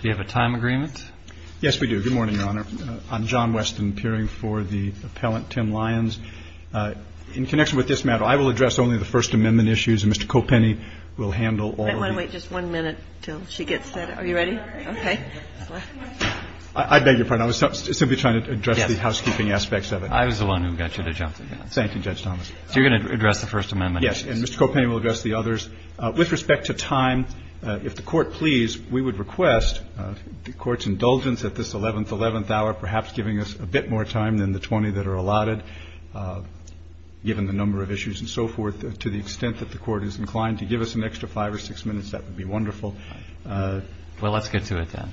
Do you have a time agreement? Yes, we do. Good morning, Your Honor. I'm John Weston, peering for the appellant, Tim Lyons. In connection with this matter, I will address only the First Amendment issues, and Mr. Kopenny will handle all of these. I'm going to wait just one minute until she gets set up. Are you ready? Okay. I beg your pardon. I was simply trying to address the housekeeping aspects of it. I was the one who got you to jump in. Thank you, Judge Thomas. So you're going to address the First Amendment issues? Yes, and Mr. Kopenny will address the others. With respect to time, if the Court please, we would request the Court's indulgence at this 11th, 11th hour, perhaps giving us a bit more time than the 20 that are allotted, given the number of issues and so forth, to the extent that the Court is inclined to give us an extra five or six minutes, that would be wonderful. Well, let's get to it then.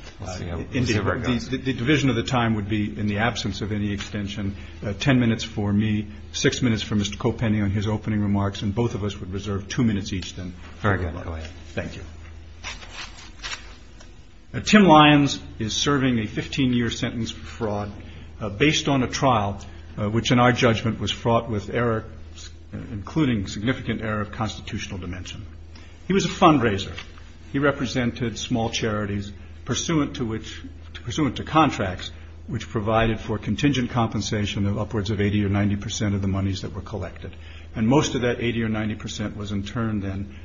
The division of the time would be, in the absence of any extension, 10 minutes for me, 6 minutes for Mr. Kopenny on his opening remarks, and both of us would reserve 2 minutes each then. Very good. Go ahead. Thank you. Tim Lyons is serving a 15-year sentence for fraud based on a trial which, in our judgment, was fraught with error, including significant error of constitutional dimension. He was a fundraiser. He represented small charities pursuant to contracts which provided for contingent compensation of upwards of 80 or 90 percent of the monies that were collected. And most of that 80 or 90 percent was in turn then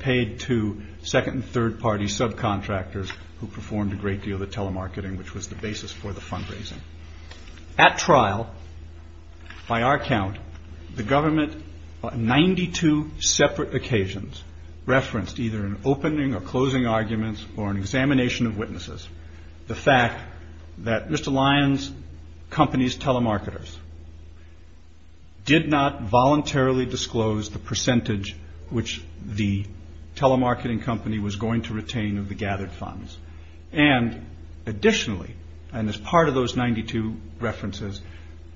paid to second and third party subcontractors who performed a great deal of the telemarketing, which was the basis for the fundraising. At trial, by our count, the government on 92 separate occasions referenced either an opening or closing arguments or an examination of witnesses the fact that Mr. Lyons' company's telemarketers did not voluntarily disclose the percentage which the telemarketing company was going to retain of the gathered funds. And additionally, and as part of those 92 references,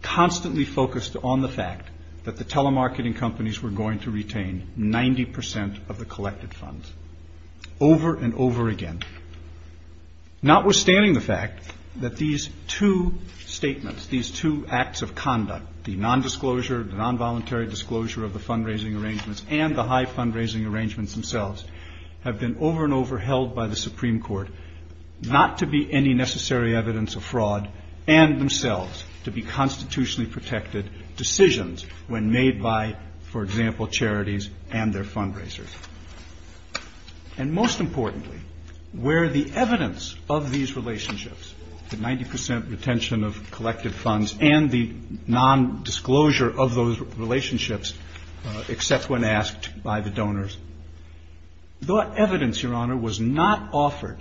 constantly focused on the fact that the telemarketing companies were going to retain 90 percent of the collected funds. Over and over again. Notwithstanding the fact that these two statements, these two acts of conduct, the non-disclosure, the non-voluntary disclosure of the fundraising arrangements and the high fundraising arrangements themselves have been over and over held by the Supreme Court not to be any necessary evidence of fraud and themselves to be constitutionally protected decisions when made by, for example, charities and their fundraisers. And most importantly, where the evidence of these relationships, the 90 percent retention of collective funds and the non-disclosure of those relationships, except when asked by the donors, that evidence, Your Honor, was not offered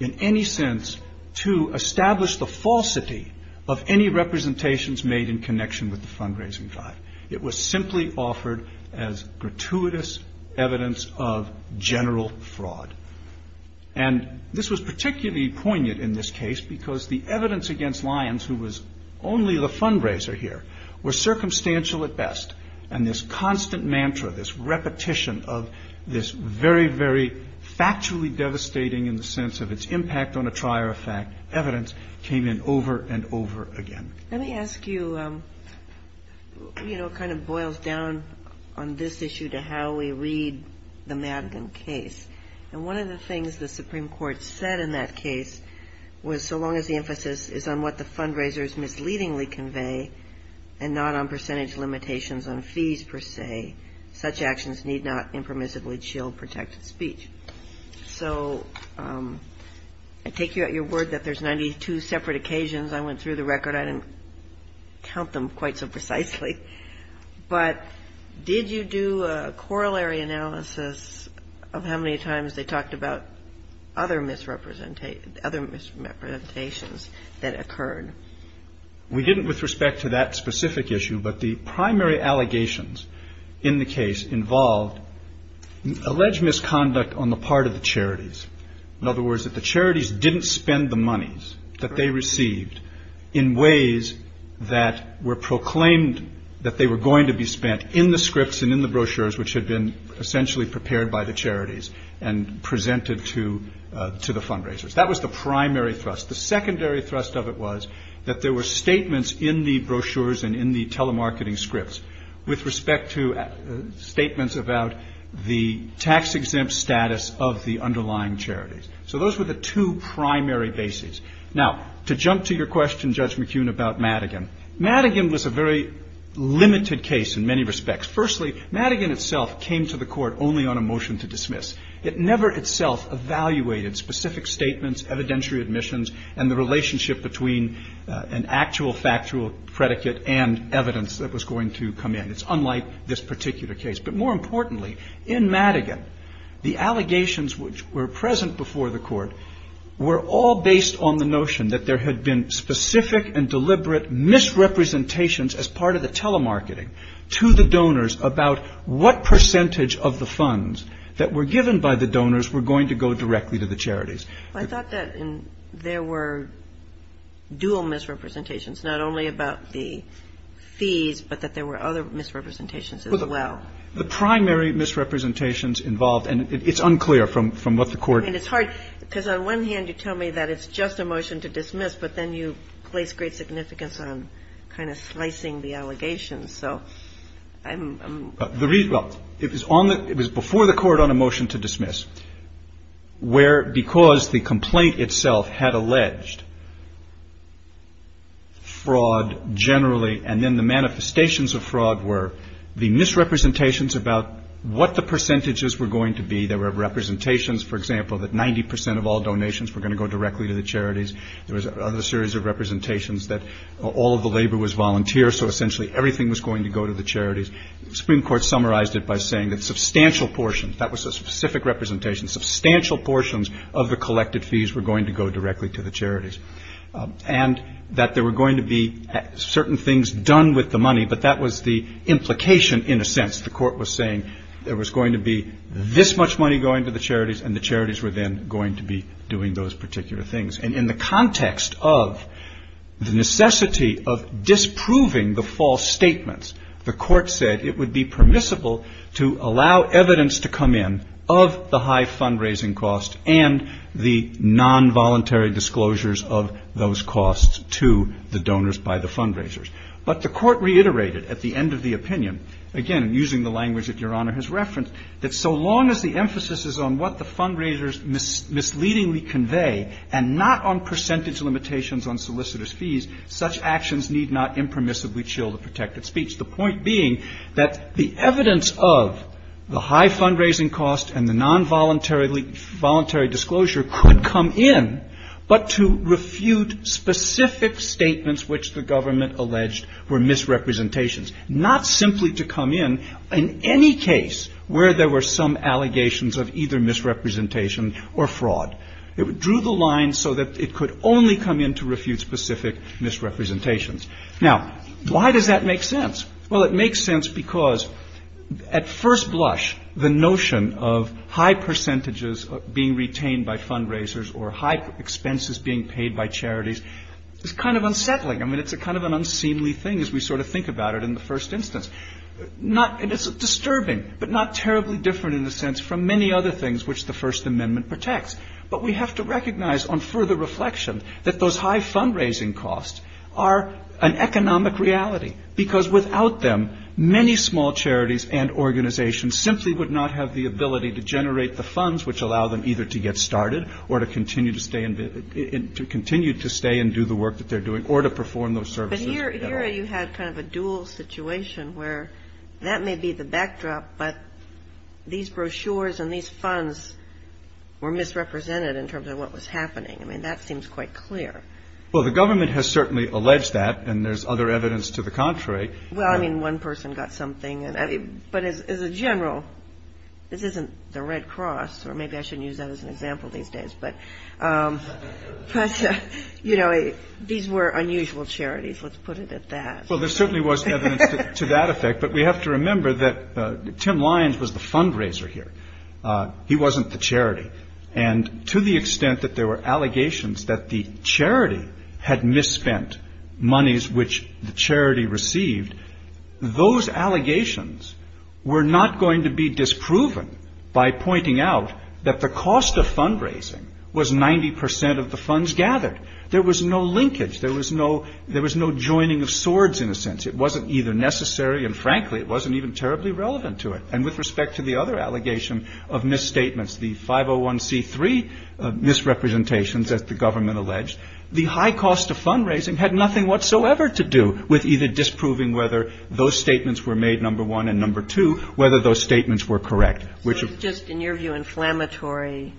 in any sense to establish the falsity of any representations made in connection with the fundraising drive. It was simply offered as gratuitous evidence of general fraud. And this was particularly poignant in this case because the evidence against Lyons, who was only the fundraiser here, was circumstantial at best. And this constant mantra, this repetition of this very, very factually devastating in the sense of its impact on a trier of fact evidence came in over and over again. Let me ask you, you know, it kind of boils down on this issue to how we read the Madigan case. And one of the things the Supreme Court said in that case was, so long as the emphasis is on what the fundraisers misleadingly convey and not on percentage limitations on fees per se, such actions need not impermissibly shield protected speech. So I take you at your word that there's 92 separate occasions. I went through the record. I didn't count them quite so precisely. But did you do a corollary analysis of how many times they talked about other misrepresentations that occurred? We didn't with respect to that specific issue. But the primary allegations in the case involved alleged misconduct on the part of the charities. In other words, that the charities didn't spend the monies that they received in ways that were proclaimed that they were going to be spent in the scripts and in the brochures, which had been essentially prepared by the charities and presented to the fundraisers. That was the primary thrust. The secondary thrust of it was that there were statements in the brochures and in the telemarketing scripts with respect to statements about the tax-exempt status of the underlying charities. So those were the two primary bases. Now, to jump to your question, Judge McKeown, about Madigan. Madigan was a very limited case in many respects. Firstly, Madigan itself came to the court only on a motion to dismiss. It never itself evaluated specific statements, evidentiary admissions, and the relationship between an actual factual predicate and evidence that was going to come in. It's unlike this particular case. But more importantly, in Madigan, the allegations which were present before the court were all based on the notion that there had been specific and deliberate misrepresentations as part of the telemarketing to the donors about what percentage of the funds that were given by the donors were going to go directly to the charities. I thought that there were dual misrepresentations, not only about the fees, but that there were other misrepresentations as well. Well, the primary misrepresentations involved, and it's unclear from what the court ---- I mean, it's hard, because on one hand, you tell me that it's just a motion to dismiss, but then you place great significance on kind of slicing the allegations. So I'm ---- Well, it was before the court on a motion to dismiss, where because the complaint itself had alleged fraud generally, and then the manifestations of fraud were the misrepresentations about what the percentages were going to be. There were representations, for example, that 90% of all donations were going to go directly to the charities. There was another series of representations that all of the labor was volunteer, so essentially everything was going to go to the charities. The Supreme Court summarized it by saying that substantial portions, that was a specific representation, substantial portions of the collected fees were going to go directly to the charities, and that there were going to be certain things done with the money, but that was the implication in a sense. The court was saying there was going to be this much money going to the charities, and the charities were then going to be doing those particular things. And in the context of the necessity of disproving the false statements, the court said it would be permissible to allow evidence to come in of the high fundraising costs and the non-voluntary disclosures of those costs to the donors by the fundraisers. But the court reiterated at the end of the opinion, again using the language that Your Honor has referenced, that so long as the emphasis is on what the fundraisers misleadingly convey and not on percentage limitations on solicitors' fees, such actions need not impermissibly chill the protected speech. The point being that the evidence of the high fundraising costs and the non-voluntary disclosure could come in, but to refute specific statements which the government alleged were misrepresentations. Not simply to come in in any case where there were some allegations of either misrepresentation or fraud. It drew the line so that it could only come in to refute specific misrepresentations. Now, why does that make sense? Well, it makes sense because at first blush, the notion of high percentages being retained by fundraisers or high expenses being paid by charities is kind of unsettling. I mean, it's a kind of an unseemly thing as we sort of think about it in the first instance. It's disturbing, but not terribly different in the sense from many other things which the First Amendment protects. But we have to recognize on further reflection that those high fundraising costs are an economic reality because without them, many small charities and organizations simply would not have the ability to generate the funds which allow them either to get started or to continue to stay and do the work that they're doing or to perform those services. But here you had kind of a dual situation where that may be the backdrop, but these brochures and these funds were misrepresented in terms of what was happening. I mean, that seems quite clear. Well, the government has certainly alleged that, and there's other evidence to the contrary. Well, I mean, one person got something, but as a general, this isn't the Red Cross, or maybe I shouldn't use that as an example these days, but, you know, these were unusual charities. Let's put it at that. Well, there certainly was evidence to that effect, but we have to remember that Tim Lyons was the fundraiser here. He wasn't the charity. And to the extent that there were allegations that the charity had misspent monies which the charity received, those allegations were not going to be disproven by pointing out that the cost of fundraising was 90% of the funds gathered. There was no linkage. There was no joining of swords, in a sense. It wasn't either necessary, and frankly, it wasn't even terribly relevant to it. And with respect to the other allegation of misstatements, the 501c3 misrepresentations, as the government alleged, the high cost of fundraising had nothing whatsoever to do with either disproving whether those statements were made, number one, and number two, whether those statements were correct. So it was just, in your view, inflammatory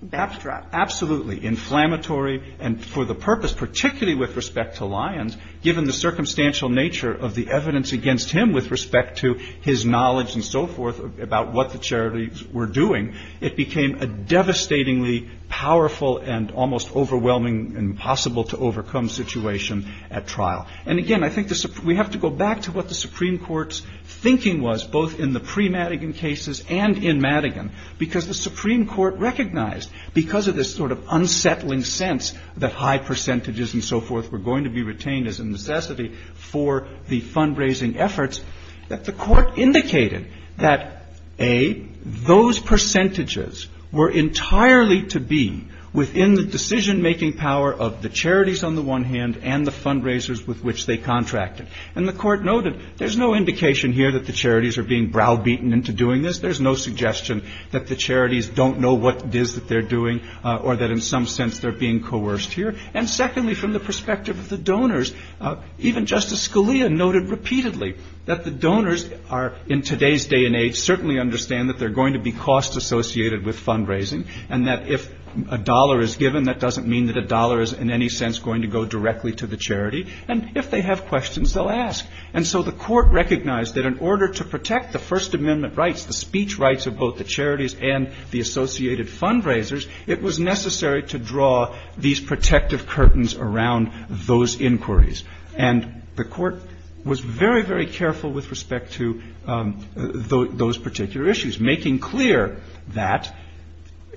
backdrop. Absolutely inflammatory, and for the purpose, particularly with respect to Lyons, given the circumstantial nature of the evidence against him with respect to his knowledge and so forth about what the charities were doing, it became a devastatingly powerful and almost overwhelming and impossible to overcome situation at trial. And again, I think we have to go back to what the Supreme Court's thinking was, both in the pre-Madigan cases and in Madigan, because the Supreme Court recognized, because of this sort of unsettling sense that high percentages and so forth were going to be retained as a necessity for the fundraising efforts, that the court indicated that, A, those percentages were entirely to be within the decision-making power of the charities on the one hand and the fundraisers with which they contracted. And the court noted, there's no indication here that the charities are being browbeaten into doing this. There's no suggestion that the charities don't know what it is that they're doing, or that in some sense they're being coerced here. And secondly, from the perspective of the donors, even Justice Scalia noted repeatedly that the donors are, in today's day and age, certainly understand that they're going to be cost-associated with fundraising, and that if a dollar is given, that doesn't mean that a dollar is in any sense going to go directly to the charity. And if they have questions, they'll ask. And so the court recognized that in order to protect the First Amendment rights, the speech rights of both the charities and the associated fundraisers, it was necessary to draw these protective curtains around those inquiries. And the court was very, very careful with respect to those particular issues, making clear that,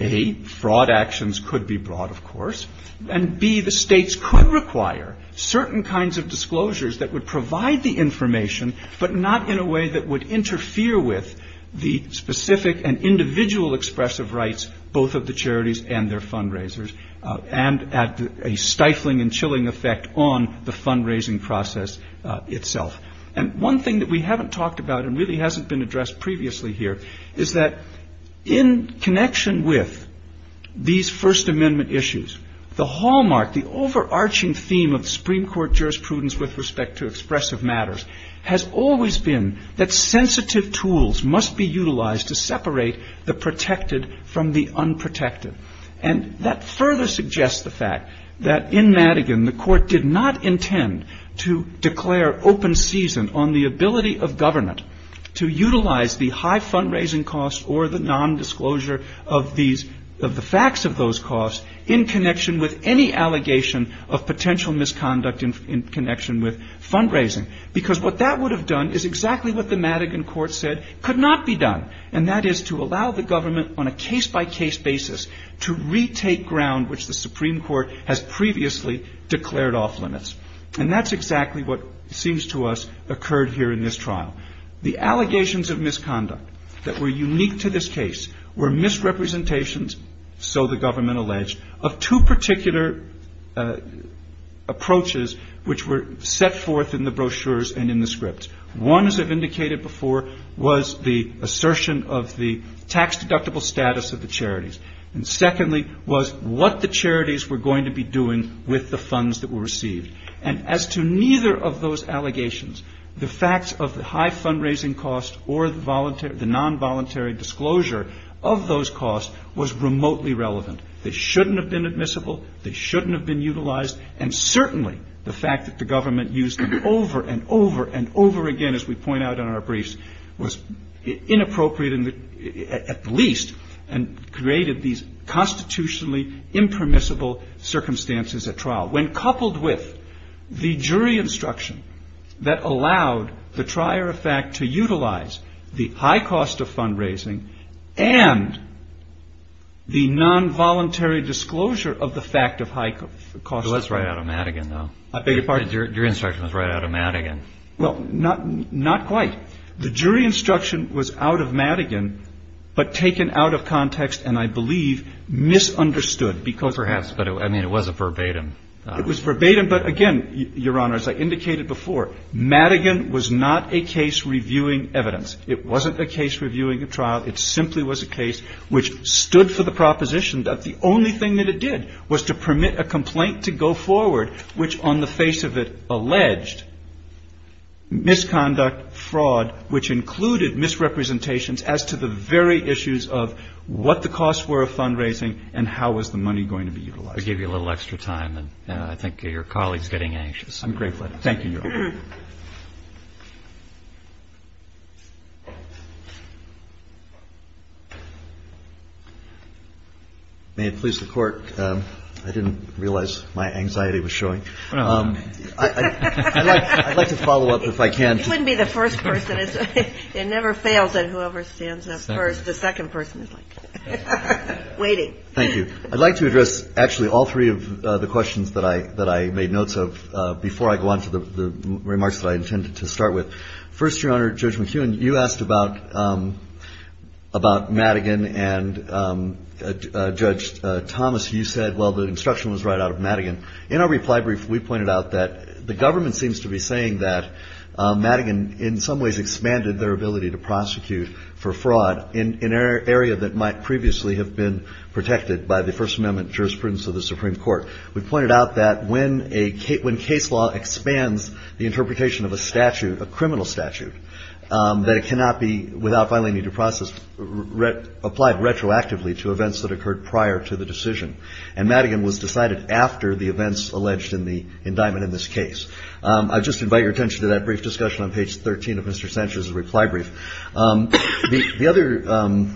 A, fraud actions could be brought, of course, and, B, the states could require certain kinds of disclosures that would provide the information, but not in a way that would interfere with the specific and individual expressive rights, both of the charities and their fundraisers, and add a stifling and chilling effect on the fundraising process itself. And one thing that we haven't talked about and really hasn't been addressed previously here is that in connection with these First Amendment issues, the hallmark, the overarching theme of Supreme Court jurisprudence with respect to expressive matters has always been that sensitive tools must be utilized to separate the protected from the unprotected. And that further suggests the fact that in Madigan, the court did not intend to declare open season on the ability of government to utilize the high fundraising costs or the nondisclosure of the facts of those costs in connection with any allegation of potential misconduct in connection with fundraising. Because what that would have done is exactly what the Madigan court said could not be done, and that is to allow the government on a case-by-case basis to retake ground which the Supreme Court has previously declared off-limits. And that's exactly what seems to us occurred here in this trial. The allegations of misconduct that were unique to this case were misrepresentations, so the government alleged, of two particular approaches which were set forth in the brochures and in the scripts. One, as I've indicated before, was the assertion of the tax deductible status of the charities. And secondly, was what the charities were going to be doing with the funds that were received. And as to neither of those allegations, the facts of the high fundraising costs or the non-voluntary disclosure of those costs was remotely relevant. They shouldn't have been admissible, they shouldn't have been utilized, and certainly the fact that the government used them over and over and over again, as we point out in our briefs, was inappropriate at least, when coupled with the jury instruction that allowed the trier of fact to utilize the high cost of fundraising and the non-voluntary disclosure of the fact of high costs. So that's right out of Madigan, though. I beg your pardon? Your instruction was right out of Madigan. Well, not quite. The jury instruction was out of Madigan, but taken out of context and I believe misunderstood. Well, perhaps, but I mean it was a verbatim. It was verbatim, but again, Your Honor, as I indicated before, Madigan was not a case reviewing evidence. It wasn't a case reviewing a trial, it simply was a case which stood for the proposition that the only thing that it did was to permit a complaint to go forward, which on the face of it alleged misconduct, fraud, which included misrepresentations as to the very issues of what the costs were of fundraising and how was the money going to be utilized. I gave you a little extra time and I think your colleague is getting anxious. I'm grateful. Thank you, Your Honor. May it please the Court, I didn't realize my anxiety was showing. I'd like to follow up if I can. It wouldn't be the first person. It never fails at whoever stands up first. The second person is like waiting. Thank you. I'd like to address actually all three of the questions that I made notes of before I go on to the remarks that I intended to start with. First, Your Honor, Judge McEwen, you asked about Madigan and Judge Thomas, you said, well, the instruction was right out of Madigan. In our reply brief, we pointed out that the government seems to be saying that Madigan in some ways expanded their ability to prosecute for fraud in an area that might previously have been protected by the First Amendment jurisprudence of the Supreme Court. We pointed out that when case law expands the interpretation of a statute, a criminal statute, that it cannot be, without filing a due process, applied retroactively to events that occurred prior to the decision. And Madigan was decided after the events alleged in the indictment in this case. I'd just invite your attention to that brief discussion on page 13 of Mr. Sancher's reply brief. The other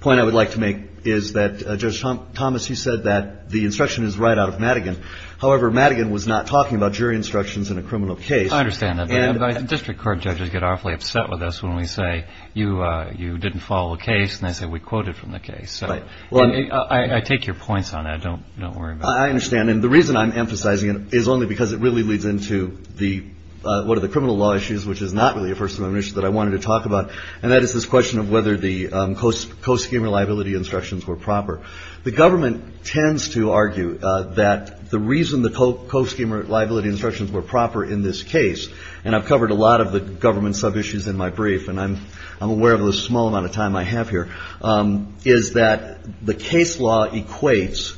point I would like to make is that Judge Thomas, you said that the instruction is right out of Madigan. However, Madigan was not talking about jury instructions in a criminal case. I understand that. District court judges get awfully upset with us when we say you didn't follow a case and they say we quoted from the case. I take your points on that. Don't worry about it. I understand. And the reason I'm emphasizing it is only because it really leads into one of the criminal law issues, which is not really a First Amendment issue that I wanted to talk about, and that is this question of whether the co-schemer liability instructions were proper. The government tends to argue that the reason the co-schemer liability instructions were proper in this case, and I've covered a lot of the government sub-issues in my brief, and I'm aware of the small amount of time I have here, is that the case law equates,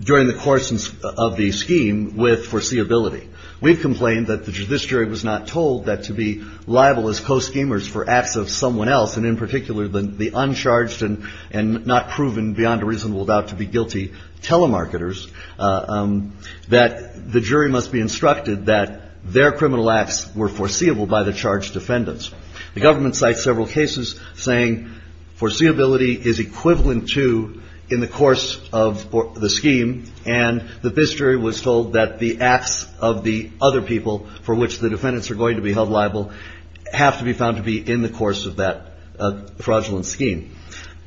during the course of the scheme, with foreseeability. We've complained that this jury was not told that to be liable as co-schemers for acts of someone else, and in particular the uncharged and not proven beyond a reasonable doubt to be guilty telemarketers, that the jury must be instructed that their criminal acts were foreseeable by the charged defendants. The government cites several cases saying foreseeability is equivalent to in the course of the scheme, and that this jury was told that the acts of the other people for which the defendants are going to be held liable have to be found to be in the course of that fraudulent scheme.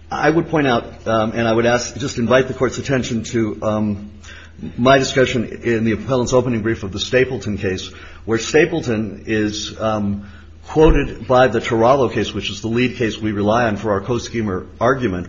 I would point out, and I would ask, just invite the court's attention to my discussion in the appellant's opening brief of the Stapleton case, where Stapleton is quoted by the Turalo case, which is the lead case we rely on for our co-schemer argument.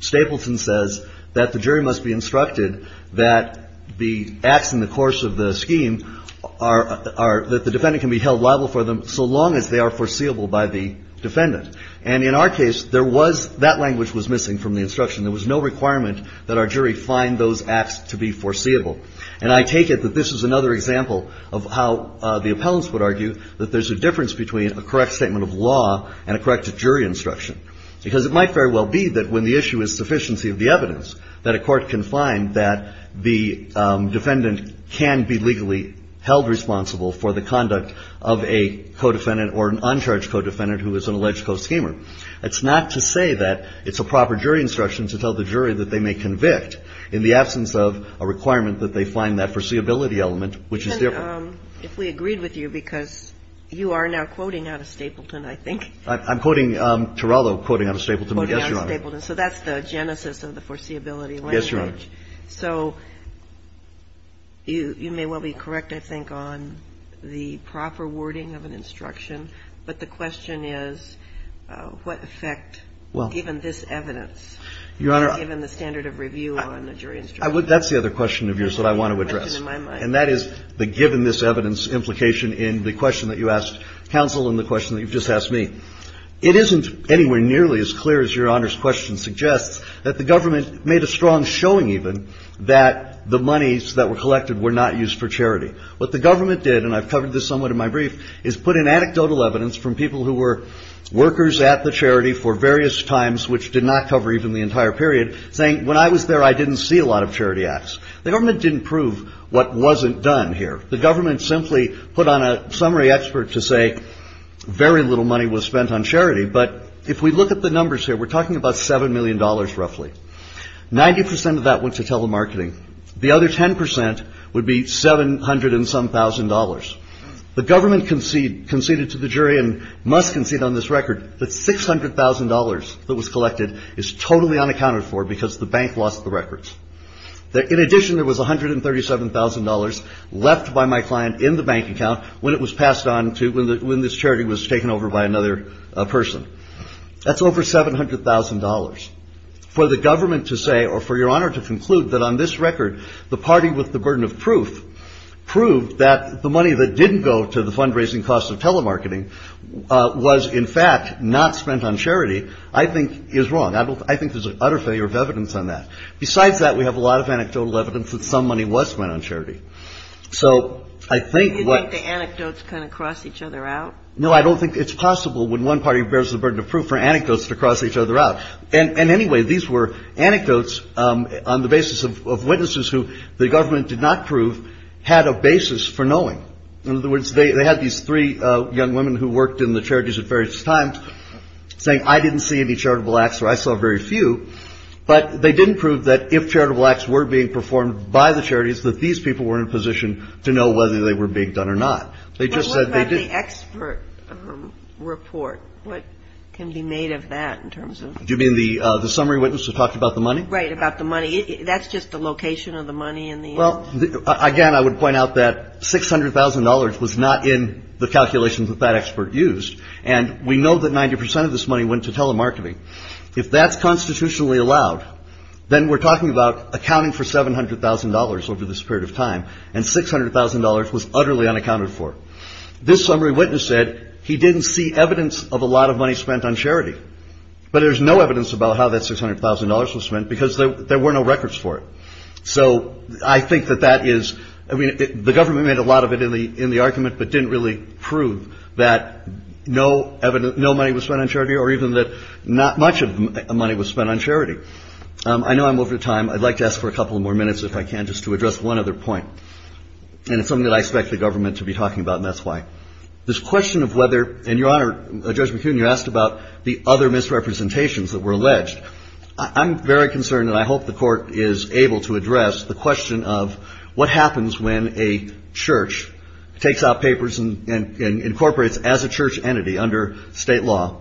Stapleton says that the jury must be instructed that the acts in the course of the scheme, that the defendant can be held liable for them so long as they are foreseeable by the defendant. In our case, that language was missing from the instruction. There was no requirement that our jury find those acts to be foreseeable. And I take it that this is another example of how the appellants would argue that there's a difference between a correct statement of law and a correct jury instruction. Because it might very well be that when the issue is sufficiency of the evidence, that a court can find that the defendant can be legally held responsible for the conduct of a co-defendant or an uncharged co-defendant who is an alleged co-schemer. It's not to say that it's a proper jury instruction to tell the jury that they may convict in the absence of a requirement that they find that foreseeability element, which is different. And if we agreed with you, because you are now quoting out of Stapleton, I think. I'm quoting Turalo, quoting out of Stapleton. Quoting out of Stapleton. Yes, Your Honor. So that's the genesis of the foreseeability language. Yes, Your Honor. So you may well be correct, I think, on the proper wording of an instruction. But the question is what effect, given this evidence, given the standard of review on a jury instruction. That's the other question of yours that I want to address. And that is the given this evidence implication in the question that you asked counsel and the question that you've just asked me. It isn't anywhere nearly as clear as Your Honor's question suggests that the government made a strong showing even that the monies that were collected were not used for charity. What the government did, and I've covered this somewhat in my brief, is put in anecdotal evidence from people who were workers at the charity for various times, which did not cover even the entire period, saying when I was there I didn't see a lot of charity acts. The government didn't prove what wasn't done here. The government simply put on a summary expert to say very little money was spent on charity. But if we look at the numbers here, we're talking about $7 million roughly. 90% of that went to telemarketing. The other 10% would be $700 and some thousand dollars. The government conceded to the jury, and must concede on this record, that $600,000 that was collected is totally unaccounted for because the bank lost the records. In addition, there was $137,000 left by my client in the bank account when it was passed on to, when this charity was taken over by another person. That's over $700,000. For the government to say, or for Your Honor to conclude that on this record, the party with the burden of proof proved that the money that didn't go to the fundraising costs of telemarketing was in fact not spent on charity, I think is wrong. I think there's an utter failure of evidence on that. Besides that, we have a lot of anecdotal evidence that some money was spent on charity. So I think what- Do you think the anecdotes kind of cross each other out? No, I don't think it's possible when one party bears the burden of proof for anecdotes to cross each other out. And anyway, these were anecdotes on the basis of witnesses who the government did not prove had a basis for knowing. In other words, they had these three young women who worked in the charities at various times saying, I didn't see any charitable acts or I saw very few. But they didn't prove that if charitable acts were being performed by the charities, that these people were in a position to know whether they were being done or not. They just said they didn't- But what about the expert report? What can be made of that in terms of- Do you mean the summary witness who talked about the money? Right, about the money. That's just the location of the money in the- Well, again, I would point out that $600,000 was not in the calculations that that expert used. And we know that 90% of this money went to telemarketing. If that's constitutionally allowed, then we're talking about accounting for $700,000 over this period of time. And $600,000 was utterly unaccounted for. This summary witness said he didn't see evidence of a lot of money spent on charity. But there's no evidence about how that $600,000 was spent because there were no records for it. So I think that that is- I mean, the government made a lot of it in the argument but didn't really prove that no money was spent on charity or even that not much money was spent on charity. I know I'm over time. I'd like to ask for a couple more minutes if I can just to address one other point. And it's something that I expect the government to be talking about and that's why. This question of whether- and, Your Honor, Judge McHugh, you asked about the other misrepresentations that were alleged. I'm very concerned and I hope the Court is able to address the question of what happens when a church takes out papers and incorporates as a church entity under state law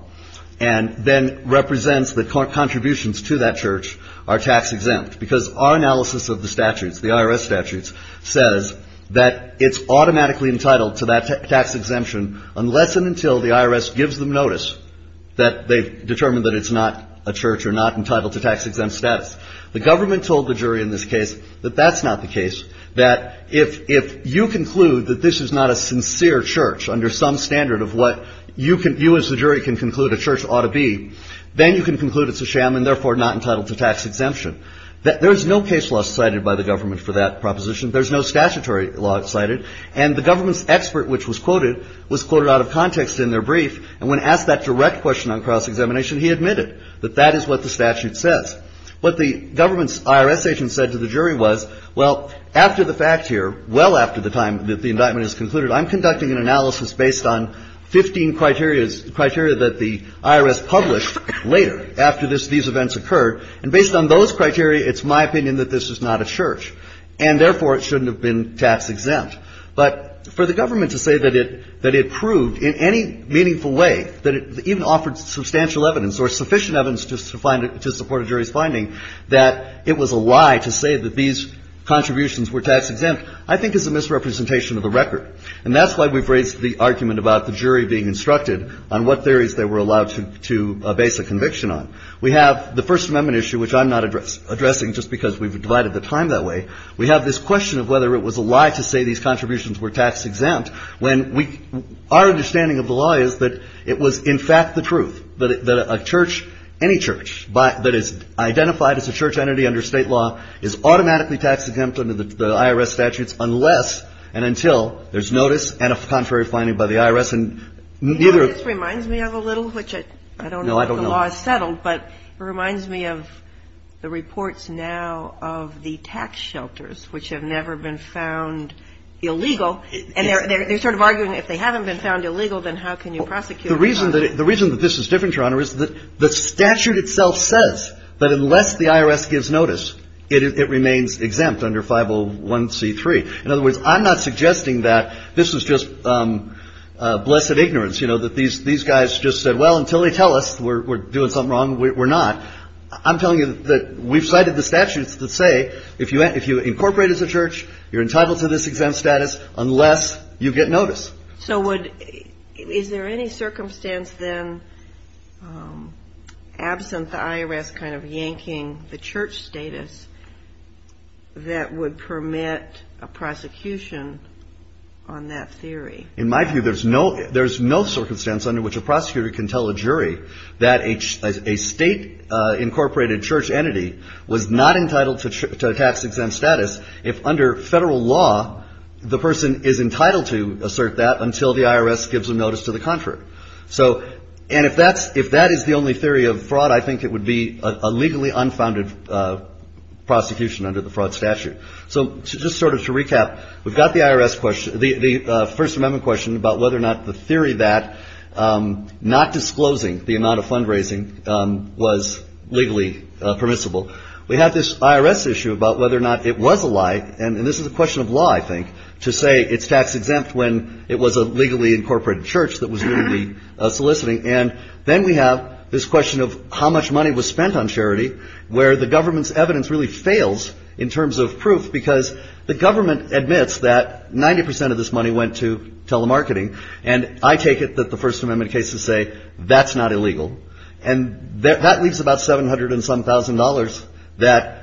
and then represents the contributions to that church are tax-exempt. Because our analysis of the statutes, the IRS statutes, says that it's automatically entitled to that tax exemption unless and until the IRS gives them notice that they've determined that it's not a church or not entitled to tax-exempt status. The government told the jury in this case that that's not the case. That if you conclude that this is not a sincere church under some standard of what you as the jury can conclude a church ought to be, then you can conclude it's a sham and therefore not entitled to tax exemption. There's no case law cited by the government for that proposition. There's no statutory law cited. And the government's expert, which was quoted, was quoted out of context in their brief. And when asked that direct question on cross-examination, he admitted that that is what the statute says. What the government's IRS agent said to the jury was, well, after the fact here, well after the time that the indictment is concluded, I'm conducting an analysis based on 15 criteria that the IRS published later after these events occurred. And based on those criteria, it's my opinion that this is not a church. And therefore it shouldn't have been tax-exempt. But for the government to say that it proved in any meaningful way that it even offered substantial evidence or sufficient evidence to support a jury's finding that it was a lie to say that these contributions were tax-exempt, I think is a misrepresentation of the record. And that's why we've raised the argument about the jury being instructed on what theories they were allowed to base a conviction on. We have the First Amendment issue, which I'm not addressing just because we've divided the time that way. We have this question of whether it was a lie to say these contributions were tax-exempt, when we – our understanding of the law is that it was in fact the truth, that a church, any church, that is identified as a church entity under State law is automatically tax-exempt under the IRS statutes unless and until there's notice and a contrary finding by the IRS. And neither of – Do you know what this reminds me of a little, which I – No, I don't know. The law is settled, but it reminds me of the reports now of the tax shelters, which have never been found illegal. And they're sort of arguing if they haven't been found illegal, then how can you prosecute them? The reason that this is different, Your Honor, is that the statute itself says that unless the IRS gives notice, it remains exempt under 501c3. In other words, I'm not suggesting that this is just blessed ignorance, you know, that these guys just said, well, until they tell us, we're doing something wrong, we're not. I'm telling you that we've cited the statutes that say if you incorporate as a church, you're entitled to this exempt status unless you get notice. So would – is there any circumstance then, absent the IRS kind of yanking the church status, that would permit a prosecution on that theory? In my view, there's no – there's no circumstance under which a prosecutor can tell a jury that a state-incorporated church entity was not entitled to a tax-exempt status if, under federal law, the person is entitled to assert that until the IRS gives them notice to the contrary. So – and if that's – if that is the only theory of fraud, I think it would be a legally unfounded prosecution under the fraud statute. So just sort of to recap, we've got the IRS question – the First Amendment question about whether or not the theory that not disclosing the amount of fundraising was legally permissible. We have this IRS issue about whether or not it was a lie, and this is a question of law, I think, to say it's tax-exempt when it was a legally incorporated church that was legally soliciting. And then we have this question of how much money was spent on charity, where the government's evidence really fails in terms of proof because the government admits that 90 percent of this money went to telemarketing. And I take it that the First Amendment cases say that's not illegal. And that leaves about 700 and some thousand dollars that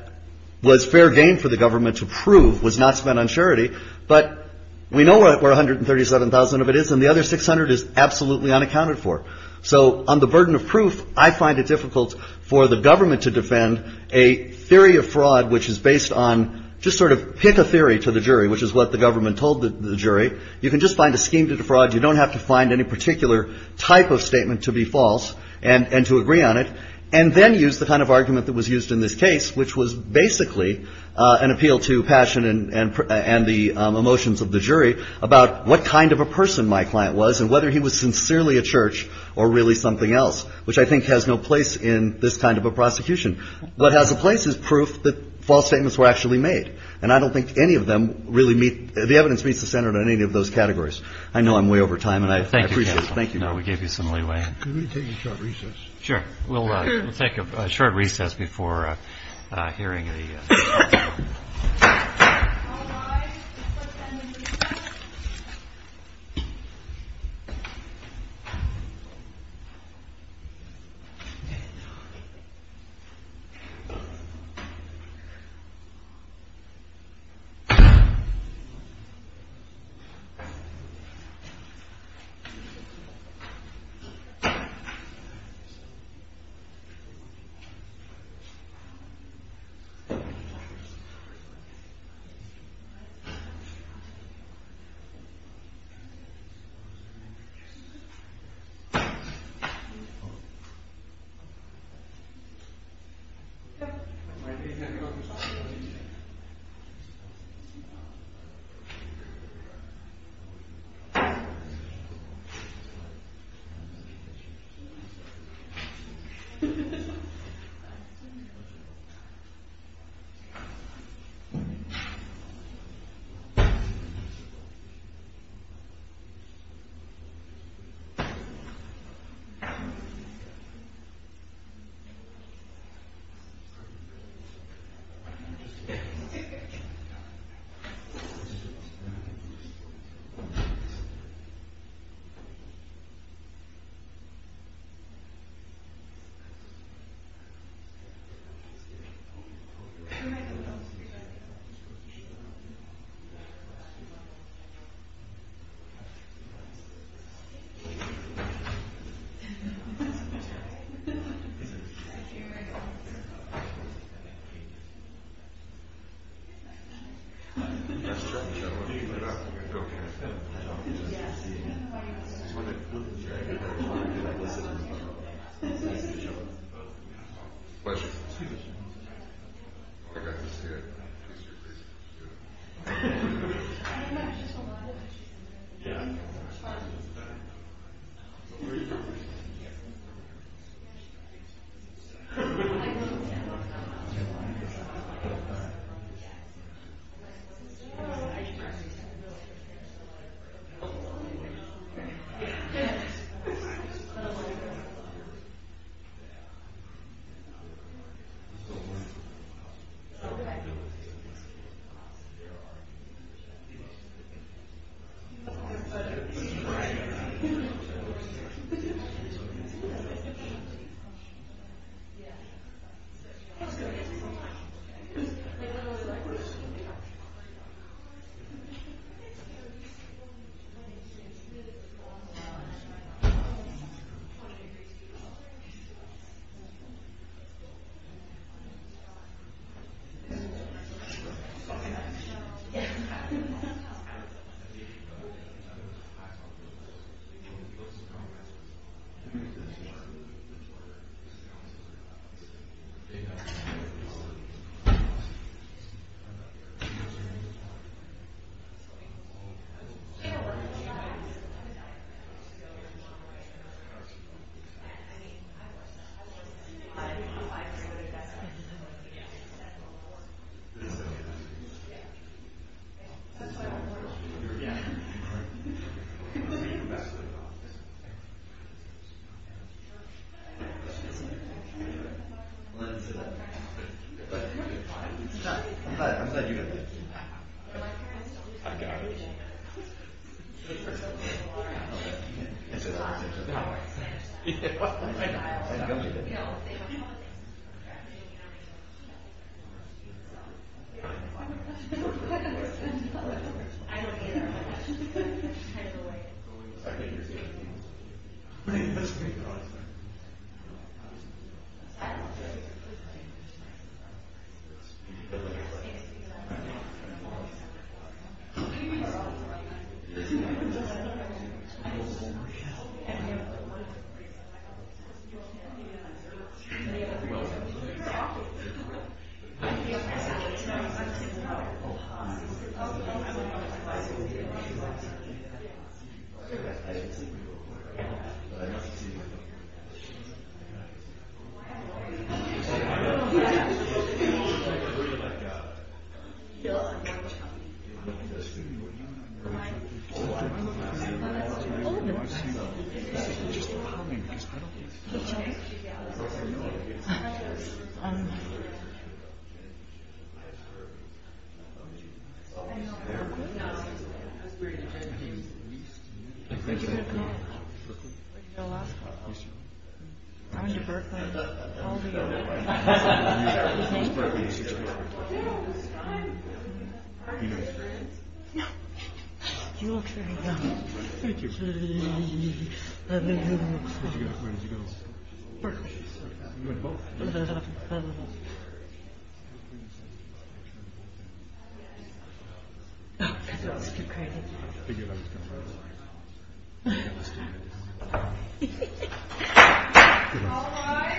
was fair game for the government to prove was not spent on charity. But we know where 137,000 of it is, and the other 600 is absolutely unaccounted for. So on the burden of proof, I find it difficult for the government to defend a theory of fraud which is based on – just sort of pick a theory to the jury, which is what the government told the jury. You can just find a scheme to defraud. You don't have to find any particular type of statement to be false and to agree on it. And then use the kind of argument that was used in this case, which was basically an appeal to passion and the emotions of the jury, about what kind of a person my client was and whether he was sincerely a church or really something else, which I think has no place in this kind of a prosecution. What has a place is proof that false statements were actually made. And I don't think any of them really meet – the evidence meets the standard in any of those categories. I know I'm way over time, and I appreciate it. Thank you. No, we gave you some leeway. Can we take a short recess? Sure. We'll take a short recess before hearing the – Thank you. Thank you. Question. Excuse me. I've got this here.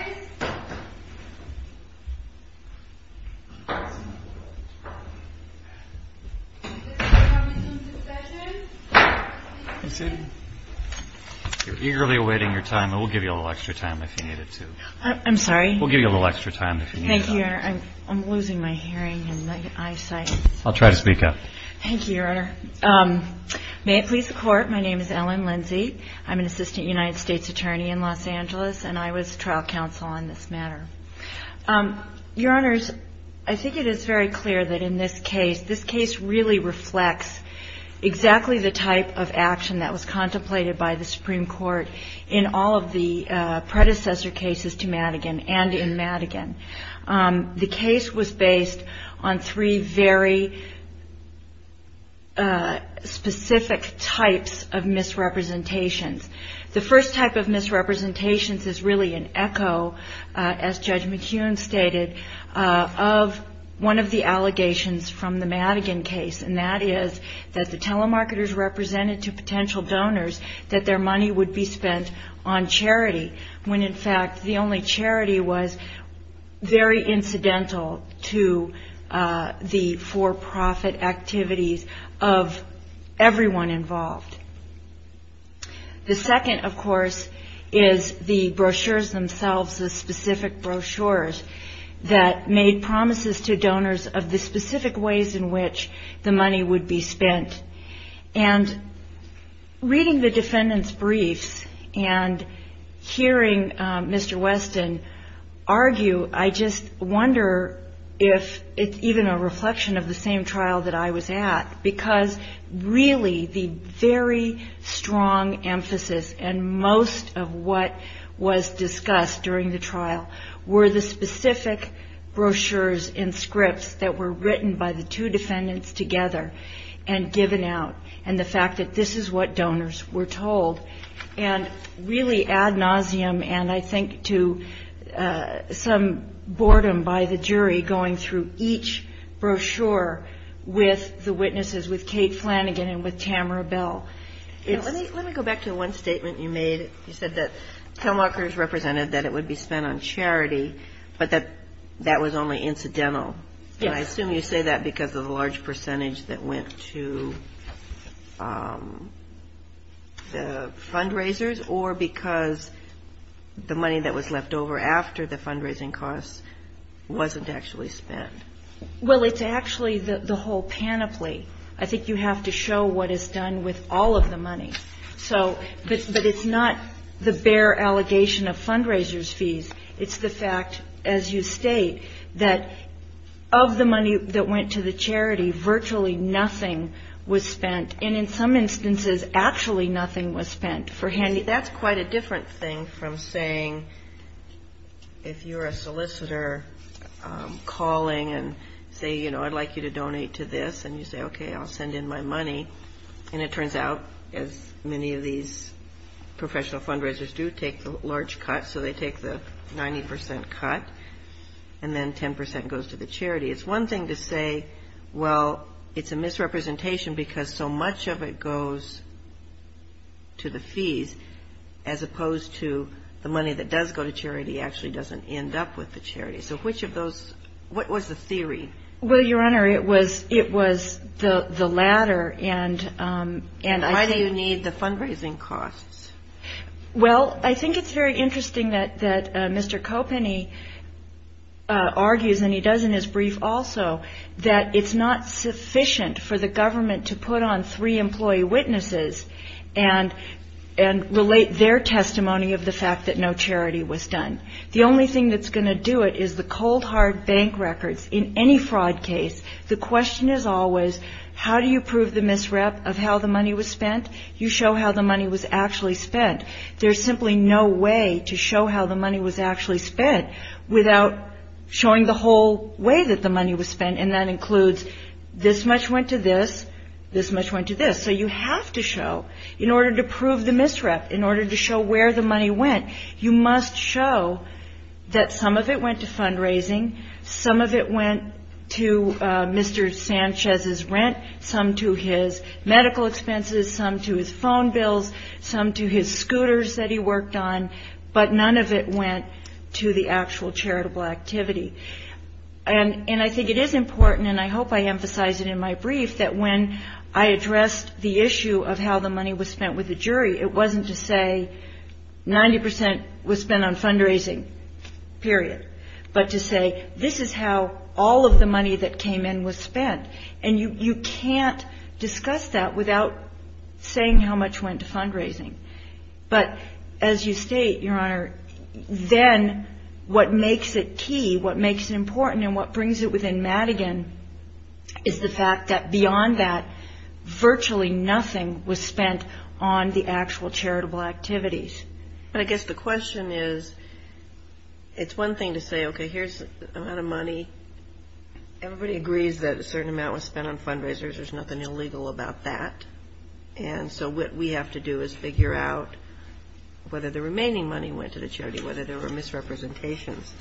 Yeah. I have a question. Okay. There are – I have a question. Right. I have a question. Yeah. So – I have a question. I have a question. Can you predict a reasonable – I mean, it's good if it's long-winded, right? I don't know. Do you want me to repeat the question? Okay. I have a question. I have a question. I have a question. Okay. You're welcome. No. I have a question. I have a question. What's your name? Brooklyn. When's your birthday? How old are you? You look very young. Thank you. Where did you go to school? Brooklyn. You went to both? I just keep crying. Thank you. All rise. You're eagerly awaiting your time. We'll give you a little extra time if you need it to. I'm sorry? We'll give you a little extra time. Thank you, Your Honor. I'm losing my hearing and eyesight. I'll try to speak up. Thank you, Your Honor. May it please the Court, my name is Ellen Lindsey. I'm an assistant United States attorney in Los Angeles, and I was trial counsel on this matter. Your Honors, I think it is very clear that in this case, this case really reflects exactly the type of action that was contemplated by the Supreme Court in all of the predecessor cases to Madigan and in Madigan. The case was based on three very specific types of misrepresentations. The first type of misrepresentations is really an echo, as Judge McHugh stated, of one of the allegations from the Madigan case, and that is that the telemarketers represented to potential donors that their money would be spent on charity, when in fact the only charity was very incidental to the for-profit activities of everyone involved. The second, of course, is the brochures themselves, the specific brochures that made promises to donors of the specific ways in which the money would be spent. And reading the defendant's briefs and hearing Mr. Weston argue, I just wonder if it's even a reflection of the same trial that I was at, because really the very strong emphasis and most of what was discussed during the trial were the specific brochures and scripts that were written by the two defendants together and given out and the fact that this is what donors were told. And really ad nauseum and I think to some boredom by the jury going through each brochure with the witnesses, with Kate Flanagan and with Tamara Bell. Let me go back to one statement you made. You said that telemarketers represented that it would be spent on charity but that was only incidental. Yes. And I assume you say that because of the large percentage that went to the fundraisers or because the money that was left over after the fundraising costs wasn't actually spent. Well, it's actually the whole panoply. I think you have to show what is done with all of the money. But it's not the bare allegation of fundraisers' fees. It's the fact, as you state, that of the money that went to the charity, virtually nothing was spent. And in some instances, actually nothing was spent for handy. That's quite a different thing from saying if you're a solicitor calling and say, you know, I'd like you to donate to this and you say, okay, I'll send in my money and it turns out as many of these professional fundraisers do, take the large cut. So they take the 90% cut and then 10% goes to the charity. It's one thing to say well, it's a misrepresentation because so much of it goes to the fees as opposed to the money that does go to charity actually doesn't end up with the charity. So which of those, what was the theory? Well, Your Honor, it was the latter and Why do you need the fundraising costs? Well, I think it's very interesting that Mr. Kopeny argues, and he does in his brief also, that it's not sufficient for the government to put on three employee witnesses and relate their testimony of the fact that no charity was done. The only thing that's going to do it is the cold hard bank records in any fraud case, the question is always how do you prove the misrep of how the money was spent? You show how the money was actually spent. There's simply no way to show how the money was actually spent without showing the whole way that the money was spent, and that includes this much went to this, this much went to this. So you have to show in order to prove the misrep, in order to show where the money went, you must show that some of it went to fundraising, some of it went to Mr. Sanchez's rent, some to his medical expenses, some to his phone bills, some to his scooters that he worked on, but none of it went to the actual charitable activity. And I think it is important, and I hope I emphasize it in my brief, that when I addressed the issue of how the money was spent with the jury, it wasn't to say 90% was spent on fundraising, period. But to say, this is how all of the money that came in was spent. And you can't discuss that without saying how much went to fundraising. But as you state, Your Honor, then what makes it key, what makes it important, and what brings it within Madigan is the fact that beyond that, virtually nothing was spent on the actual charitable activities. But I guess the question is, it's one thing to say, okay, here's the amount of money, everybody agrees that a certain amount was spent on fundraisers, there's nothing illegal about that. And so what we have to do is figure out whether the remaining money went to the charity, whether there were misrepresentations.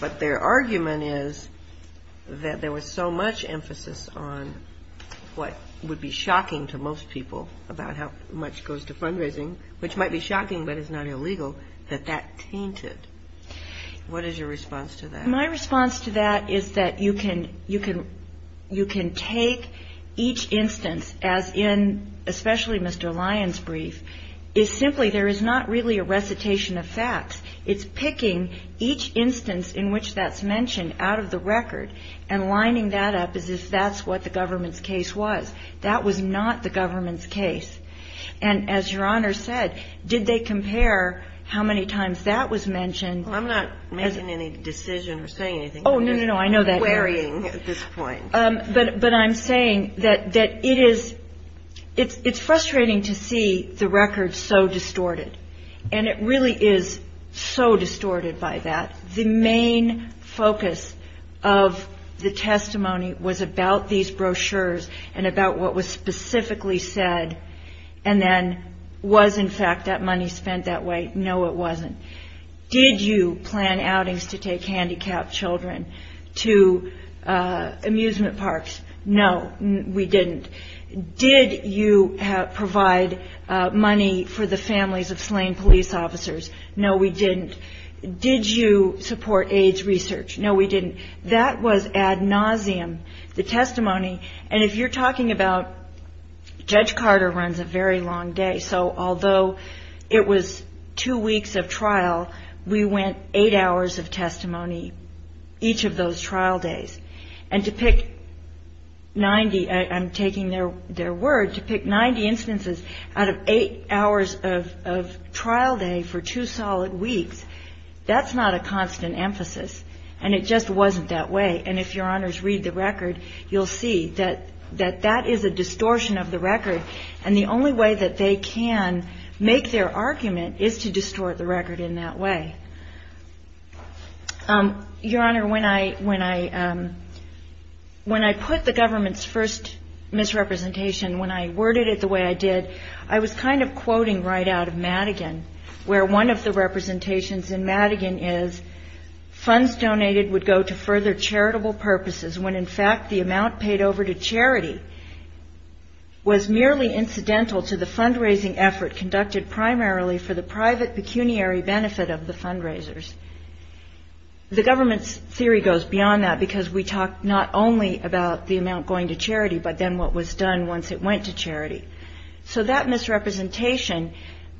But their argument is that there was so much emphasis on what would be shocking to most people about how much goes to fundraising, which might be shocking, but it's not illegal, that that tainted. What is your response to that? My response to that is that you can take each instance as in especially Mr. Lyons' brief, is simply there is not really a recitation of facts. It's picking each instance in which that's mentioned out of the record and lining that up as if that's what the government's case was. That was not the government's case. And as Your Honor said, did they compare how many times that was mentioned? I'm not making any decision or saying anything. Oh, no, no, no, I know that. But I'm saying that it is it's frustrating to see the record so distorted. And it really is so distorted by that. The main focus of the testimony was about these brochures and about what was specifically said and then was in fact that money spent that way? No, it wasn't. Did you plan outings to take handicapped children to amusement parks? No, we didn't. Did you provide money for the families of slain police officers? No, we didn't. Did you support AIDS research? No, we didn't. That was ad nauseum, the testimony. And if you're talking about Judge Carter runs a very long day, so although it was two weeks of trial, we went eight hours of testimony each of those trial days. And to pick ninety, I'm taking their word, to pick ninety instances out of eight hours of trial day for two solid weeks, that's not a constant emphasis. And it just wasn't that way. And if your honors read the record, you'll see that that is a distortion of the record. And the only way that they can make their argument is to distort the record in that way. Your honor, when I put the government's first misrepresentation, when I worded it the way I did, I was kind of quoting right out of Madigan, where one of the representations in Madigan is funds donated would go to further charitable purposes when in fact the amount paid over to charity was merely incidental to the fundraising effort conducted primarily for the private pecuniary benefit of the fundraisers. The government's theory goes beyond that because we talk not only about the amount going to charity but then what was done once it went to charity. So that misrepresentation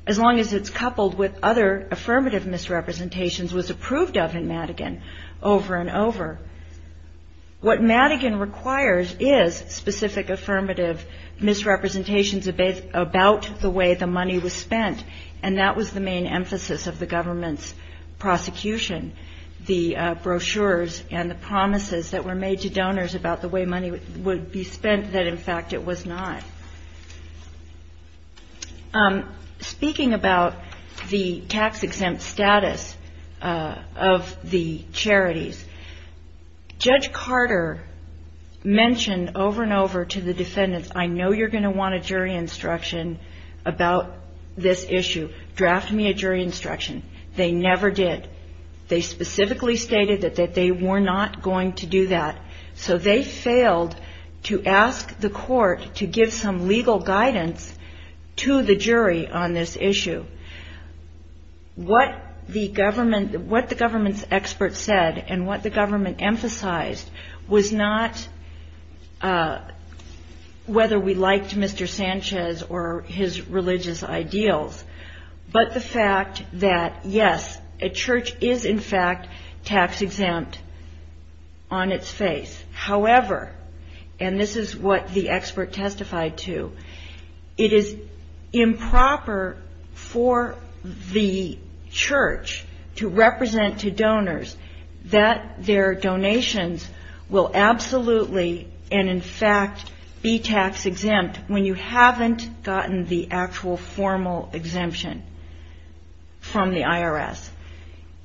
as long as it's coupled with other affirmative misrepresentations was approved of in Madigan over and over. What Madigan requires is specific affirmative misrepresentations about the way the money was spent. And that was the emphasis of the government's prosecution. The brochures and the promises that were made to donors about the way money would be spent that in fact it was not. Speaking about the tax exempt status of the charities, Judge Carter mentioned over and over to the defendants, I know you're going to want a jury instruction about this issue. Draft me a jury instruction. They never did. They specifically stated that they were not going to do that. So they failed to ask the court to give some legal guidance to the jury on this issue. What the government's experts said and what the government emphasized was not whether we liked Mr. Sanchez or his religious ideals but the fact that yes, a church is in fact tax exempt on its face. However, and this is what the expert testified to, it is improper for the church to represent to donors that their donations will absolutely and in fact be tax exempt when you haven't gotten the actual formal exemption from the IRS.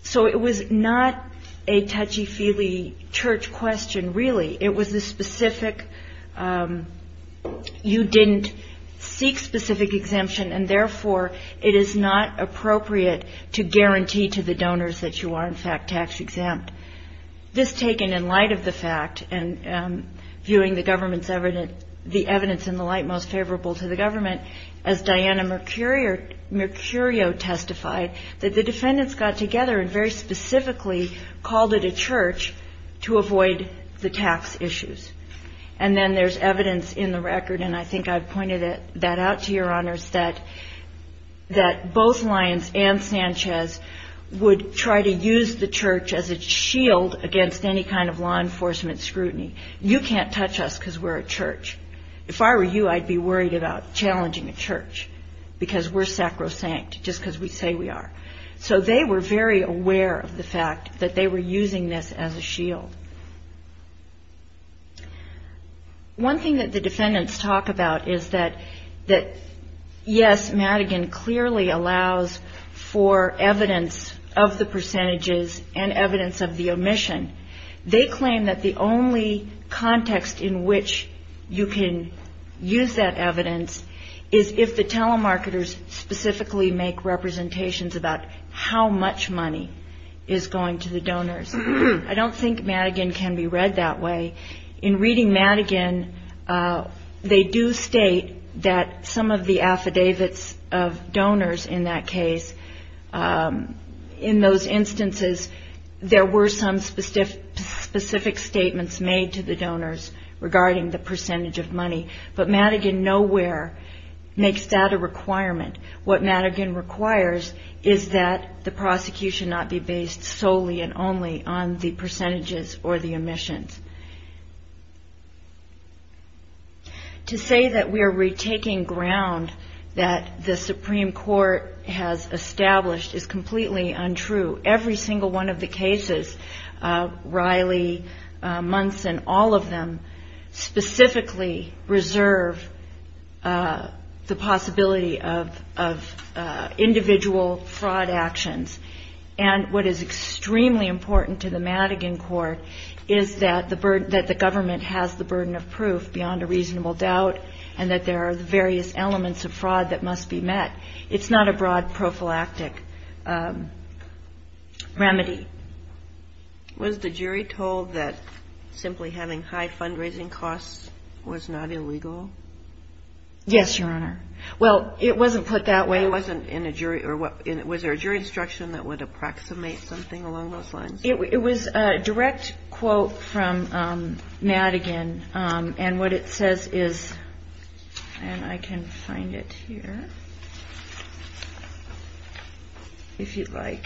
So it was not a touchy-feely church question really. It was a specific you didn't seek specific exemption and therefore it is not appropriate to guarantee to the donors that you are in fact tax exempt. This taken in light of the fact and viewing the government's evidence in the light most favorable to the government as Diana Mercurio testified that the defendants got together and very specifically called it a church to avoid the tax issues. And then there's evidence in the record and I think I've pointed that out to your honors that both Lyons and Sanchez would try to use the church as a shield against any kind of law enforcement scrutiny. You can't touch us because we're a church. If I were you I'd be worried about challenging a church because we're sacrosanct just because we say we are. So they were very aware of the fact that they were using this as a shield. One thing that the defendants talk about is that yes, Madigan clearly allows for evidence of the percentages and evidence of the omission. They claim that the only context in which you can use that evidence is if the telemarketers specifically make representations about how much money is going to the donors. I don't think Madigan can be read that way. In reading Madigan they do state that some of the affidavits of donors in that case in those instances there were some specific statements made to the donors regarding the percentage of money. But Madigan nowhere makes that a requirement. What Madigan requires is that the prosecution not be based solely and only on the percentages or the omissions. To say that we are retaking ground that the Madigan court established is completely untrue. Every single one of the cases Riley, Munson, all of them specifically reserve the possibility of individual fraud actions. What is extremely important to the Madigan court is that the government has the burden of proof beyond a reasonable doubt and that there are various elements of fraud that must be met. It's not a broad prophylactic remedy. Was the jury told that simply having high fundraising costs was not illegal? Yes, Your Honor. It wasn't put that way. Was there a jury instruction that would approximate something along those lines? It was a direct quote from Madigan and what it says is and I can find it here if you'd like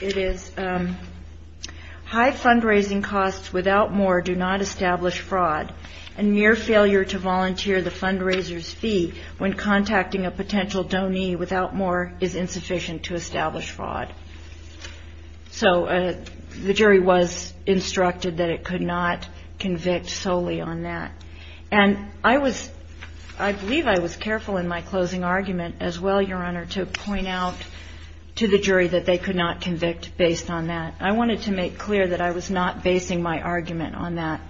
It is high fundraising costs without more do not establish fraud and mere failure to volunteer the fundraiser's fee when contacting a potential donee without more is insufficient to establish fraud. So the jury was instructed that it could not convict solely on that. I believe I was careful in my closing argument as well Your Honor to point out to the jury that they could not convict based on that. I wanted to make clear that I was not basing my argument on that.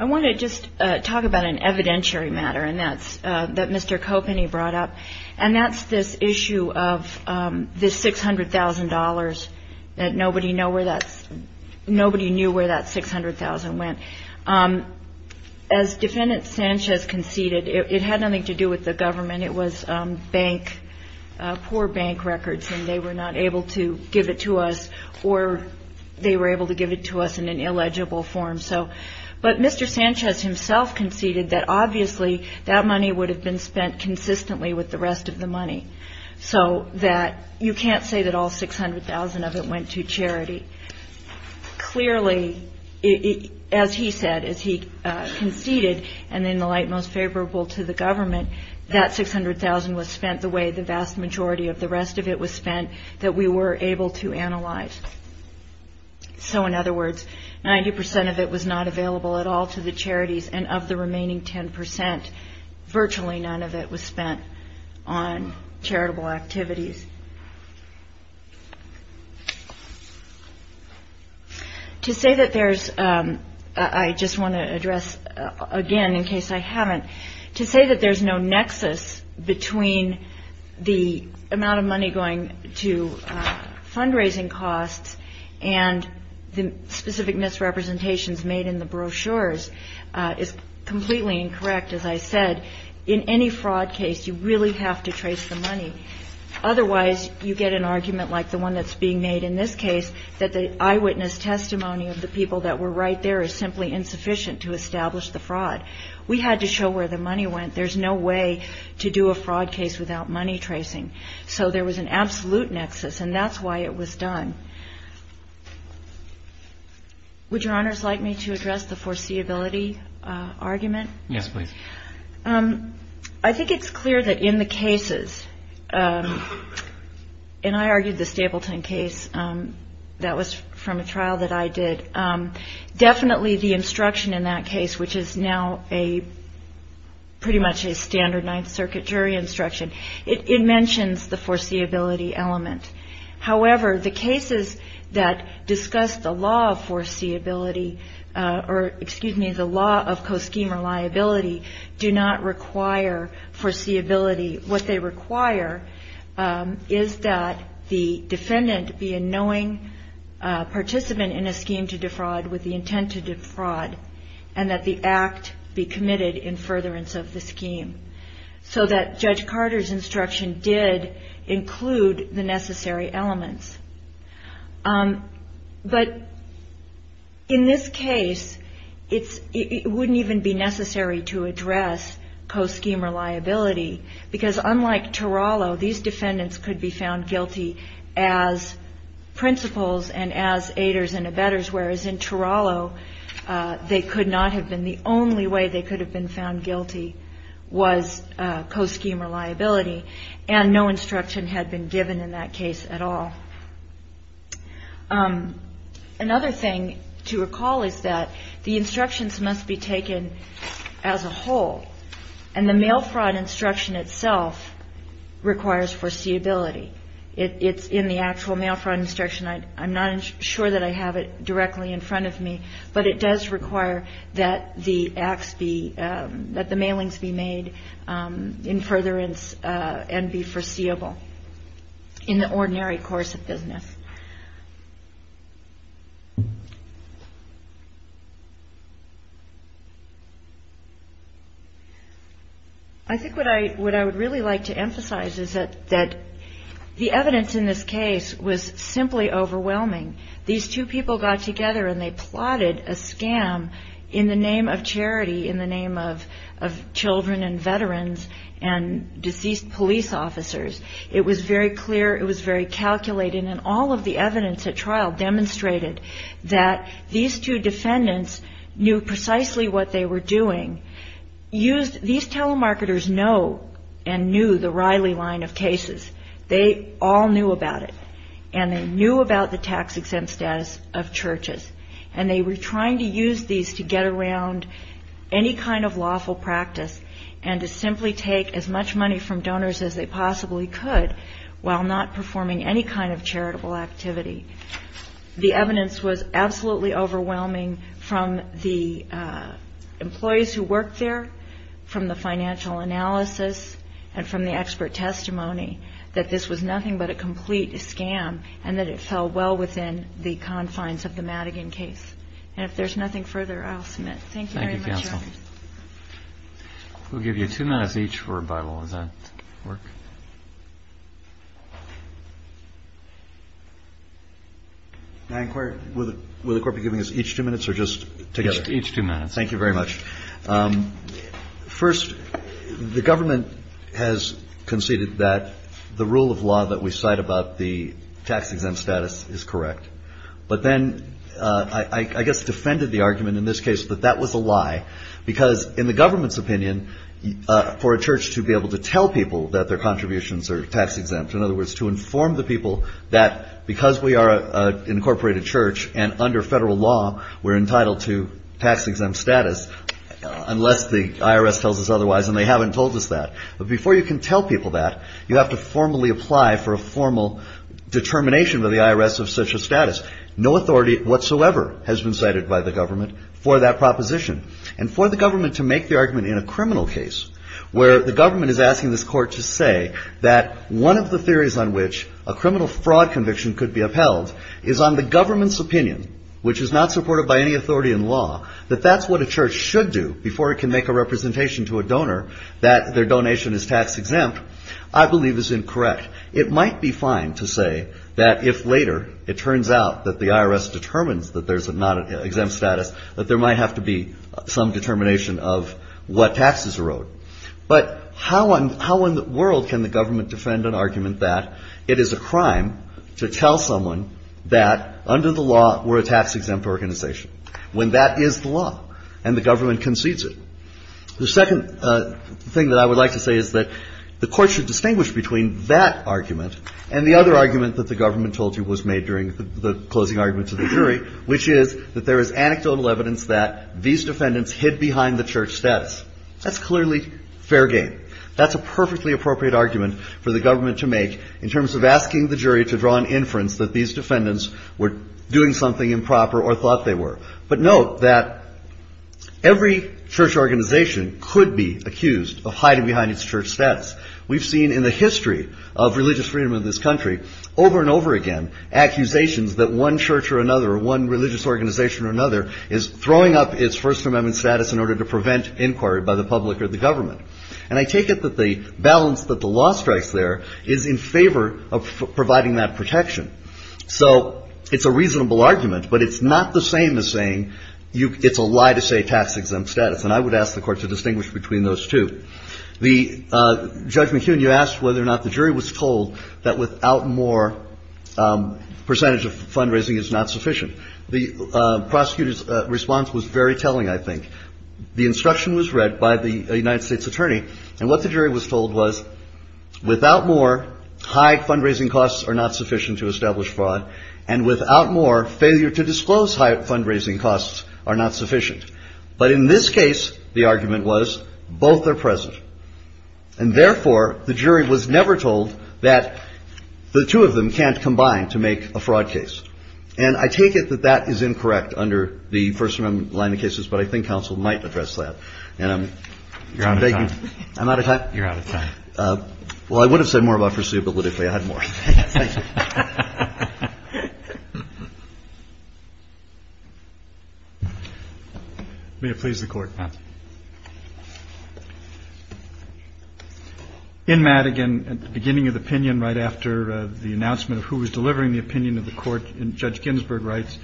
I want to just talk about an evidentiary matter that Mr. Kopeny brought up and that's this issue of this $600,000 that nobody knew where that $600,000 went. As Defendant Sanchez conceded it had nothing to do with the government it was bank poor bank records and they were not able to give it to us or to the jury or they were able to give it to us in an illegible form but Mr. Sanchez himself conceded that obviously that money would have been spent consistently with the rest of the money so that you can't say that all $600,000 of it went to charity. Clearly as he said, as he conceded and in the light most that $600,000 was spent the way the vast majority of the rest of it was spent that we were able to analyze. So in other words 90% of it was not available at all to the charities and of the remaining 10% virtually none of it was spent on charitable activities. To say that there's I just want to address again in case I haven't to say that there's no nexus between the to fundraising costs and the specific misrepresentations made in the brochures is completely incorrect as I said in any fraud case you really have to trace the money. Otherwise you get an argument like the one that's being made in this case that the eyewitness testimony of the people that were right there is simply insufficient to establish the fraud. We had to show where the money went. There's no way to do a fraud case without money tracing. So there was an absolute nexus and that's why it was done. Would your honors like me to address the foreseeability argument? Yes please. I think it's clear that in the cases and I argued the Stapleton case that was from a trial that I did definitely the instruction in that case which is now a pretty much a standard 9th circuit jury instruction. It mentions the foreseeability element. However the cases that discuss the law of foreseeability or excuse me the law of co-scheme reliability do not require foreseeability. What they require is that the defendant be a knowing participant in a scheme to defraud with the intent to defraud and that the act be committed in furtherance of the scheme. So that Judge Carter's instruction did include the necessary elements. But in this case it wouldn't even be necessary to address co-scheme reliability because unlike Teralo these defendants could be found guilty as principals and as aiders and abettors whereas in Teralo they could not have been the only way they could have been found guilty was co-scheme reliability and no instruction had been given in that case at all. Another thing to recall is that the instructions must be taken as a whole and the mail fraud instruction itself requires foreseeability. It's in the actual mail fraud instruction I'm not sure that I have it directly in front of me but it does require that the mailings be made in furtherance and be foreseeable in the ordinary course of business. I think what I would really like to emphasize is that the evidence in this case was simply overwhelming. These two people got together and they plotted a scam in the name of charity in the name of children and veterans and deceased police officers. It was very clear it was very calculated and all of the evidence at trial demonstrated that these two defendants knew precisely what they were doing. These telemarketers know and knew the Riley line of cases they all knew about it and they knew about the tax and they were trying to use these to get around any kind of lawful practice and to simply take as much money from donors as they possibly could while not performing any kind of charitable activity. The evidence was absolutely overwhelming from the employees who worked there from the financial analysis and from the expert testimony that this was nothing but a complete scam and that it fell well within the confines of the Madigan case and if there's nothing further I'll submit. Thank you very much. We'll give you two minutes each for rebuttal. Does that work? May I inquire? Will the court be giving us each two minutes or just together? Each two minutes. Thank you very much. First the government has conceded that the rule of law that we cite about the tax exemption, but then I guess defended the argument in this case that that was a lie because in the government's opinion for a church to be able to tell people that their contributions are tax exempt in other words to inform the people that because we are an incorporated church and under federal law we're entitled to tax exempt status unless the IRS tells us otherwise and they haven't told us that but before you can tell people that you have to formally apply for a formal determination by the IRS of such a status no authority whatsoever has been cited by the government for that proposition and for the government to make the argument in a criminal case where the government is asking this court to say that one of the theories on which a criminal fraud conviction could be upheld is on the government's opinion, which is not supported by any authority in law, that that's what a church should do before it can make a representation to a donor that their donation is tax exempt, I believe is incorrect. It might be fine to say that if later it turns out that the IRS determines that there's not an exempt status, that there might have to be some determination of what taxes erode, but how in the world can the government defend an argument that it is a crime to tell someone that under the law we're a tax exempt organization, when that is the law and the government concedes it. The second thing that I would like to say is that the court should distinguish between that argument and the other argument that the government told you was made during the closing argument to the jury, which is that there is anecdotal evidence that these defendants hid behind the church status. That's clearly fair game. That's a perfectly appropriate argument for the government to make in terms of asking the jury to draw an inference that these defendants were doing something improper or thought they were. But note that every church organization could be accused of hiding behind its church status. We've seen in the history of religious freedom of this country, over and over again, accusations that one church or another or one religious organization or another is throwing up its First Amendment status in order to prevent inquiry by the public or the government. And I take it that the balance that the law strikes there is in favor of providing that protection. So it's a reasonable argument, but it's not the same as saying it's a lie to say tax exempt status. And I would ask the Court to distinguish between those two. Judge McKeon, you asked whether or not the jury was told that without more percentage of fundraising is not sufficient. The prosecutor's response was very telling, I think. The instruction was read by the United States attorney, and what the jury was told was without more, high fundraising costs are not sufficient to establish fraud, and without more, failure to disclose high fundraising costs are not sufficient. But in this case, the argument was both are present. And therefore, the jury was never told that the two of them can't combine to make a fraud case. And I take it that that is incorrect under the First Amendment line of cases, but I think counsel might address that. I'm out of time? Well, I would have said more about foreseeability if I had more. May it please the Court. In Madigan, at the beginning of the opinion, right after the announcement of who was delivering the opinion of the Court, Judge Ginsburg writes,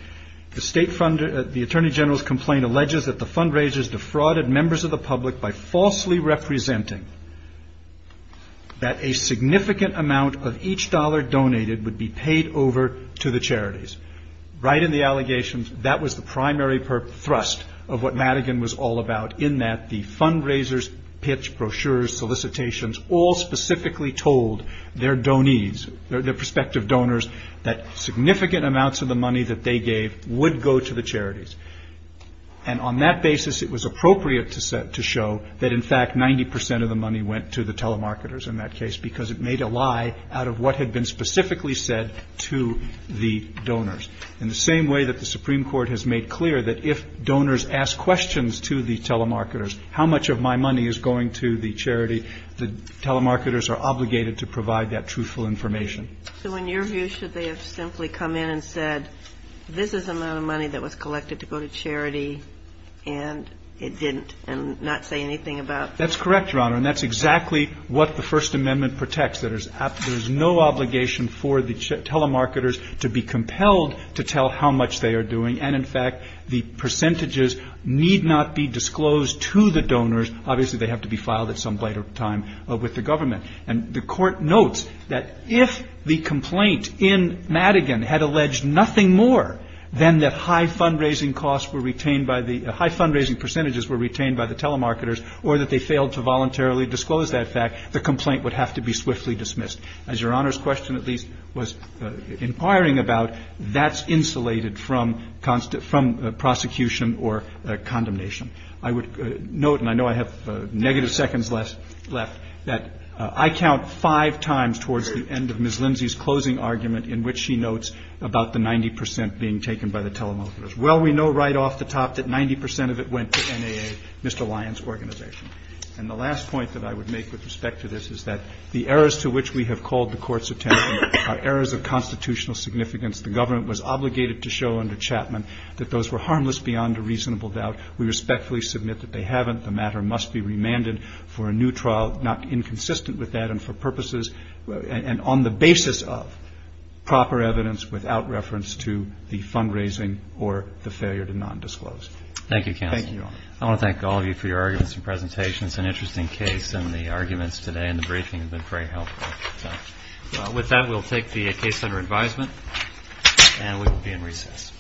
the Attorney General's complaint alleges that the fundraisers defrauded members of the public by falsely representing that a significant amount of each dollar donated would be paid over to the charities. Right in the allegations, that was the primary thrust of what Madigan was all about, in that the fundraisers, pitch, brochures, solicitations, all specifically told their donees, their prospective donors, that significant amounts of the money that they gave would go to the charities. And on that basis, it was appropriate to show that in fact, 90% of the money went to the telemarketers in that case, because it made a lie out of what had been specifically said to the donors. In the same way that the Supreme Court has made clear that if donors ask questions to the telemarketers, how much of my money is going to the charity? The telemarketers are obligated to provide that truthful information. So in your view, should they have simply come in and said, this is the amount of money that was collected to go to charity and it didn't and not say anything about... That's correct, Your Honor, and that's exactly what the First Amendment protects, that there's no obligation for the telemarketers to be compelled to tell how much they are doing, and in fact, the percentages need not be disclosed to the donors. Obviously, they have to be filed at some later time with the government. And the Court notes that if the complaint in Madigan had alleged nothing more than that high fundraising costs were retained by the... high fundraising percentages were retained by the telemarketers or that they failed to voluntarily disclose that fact, the complaint would have to be swiftly dismissed. As Your Honor's question at least was inquiring about, that's insulated from prosecution or condemnation. I would note, and I know I have negative seconds left, that I count five times towards the end of Ms. Lindsay's closing argument in which she notes about the 90% being taken by the telemarketers. Well, we know right off the top that 90% of it went to NAA, Mr. Lyon's organization. And the last point that I would make with respect to this is that the errors to which we have called the Court's attention are errors of constitutional significance. The government was obligated to show under Chapman that those were harmless beyond a reasonable doubt. We respectfully submit that they haven't. The matter must be remanded for a new trial, not inconsistent with that and for purposes, and on the basis of, proper evidence without reference to the fundraising or the failure to non-disclose. Thank you, Counsel. I want to thank all of you for your arguments and presentations. An interesting case, and the arguments today and the briefing have been very helpful. With that, we'll take the case under advisement, and we will be in recess.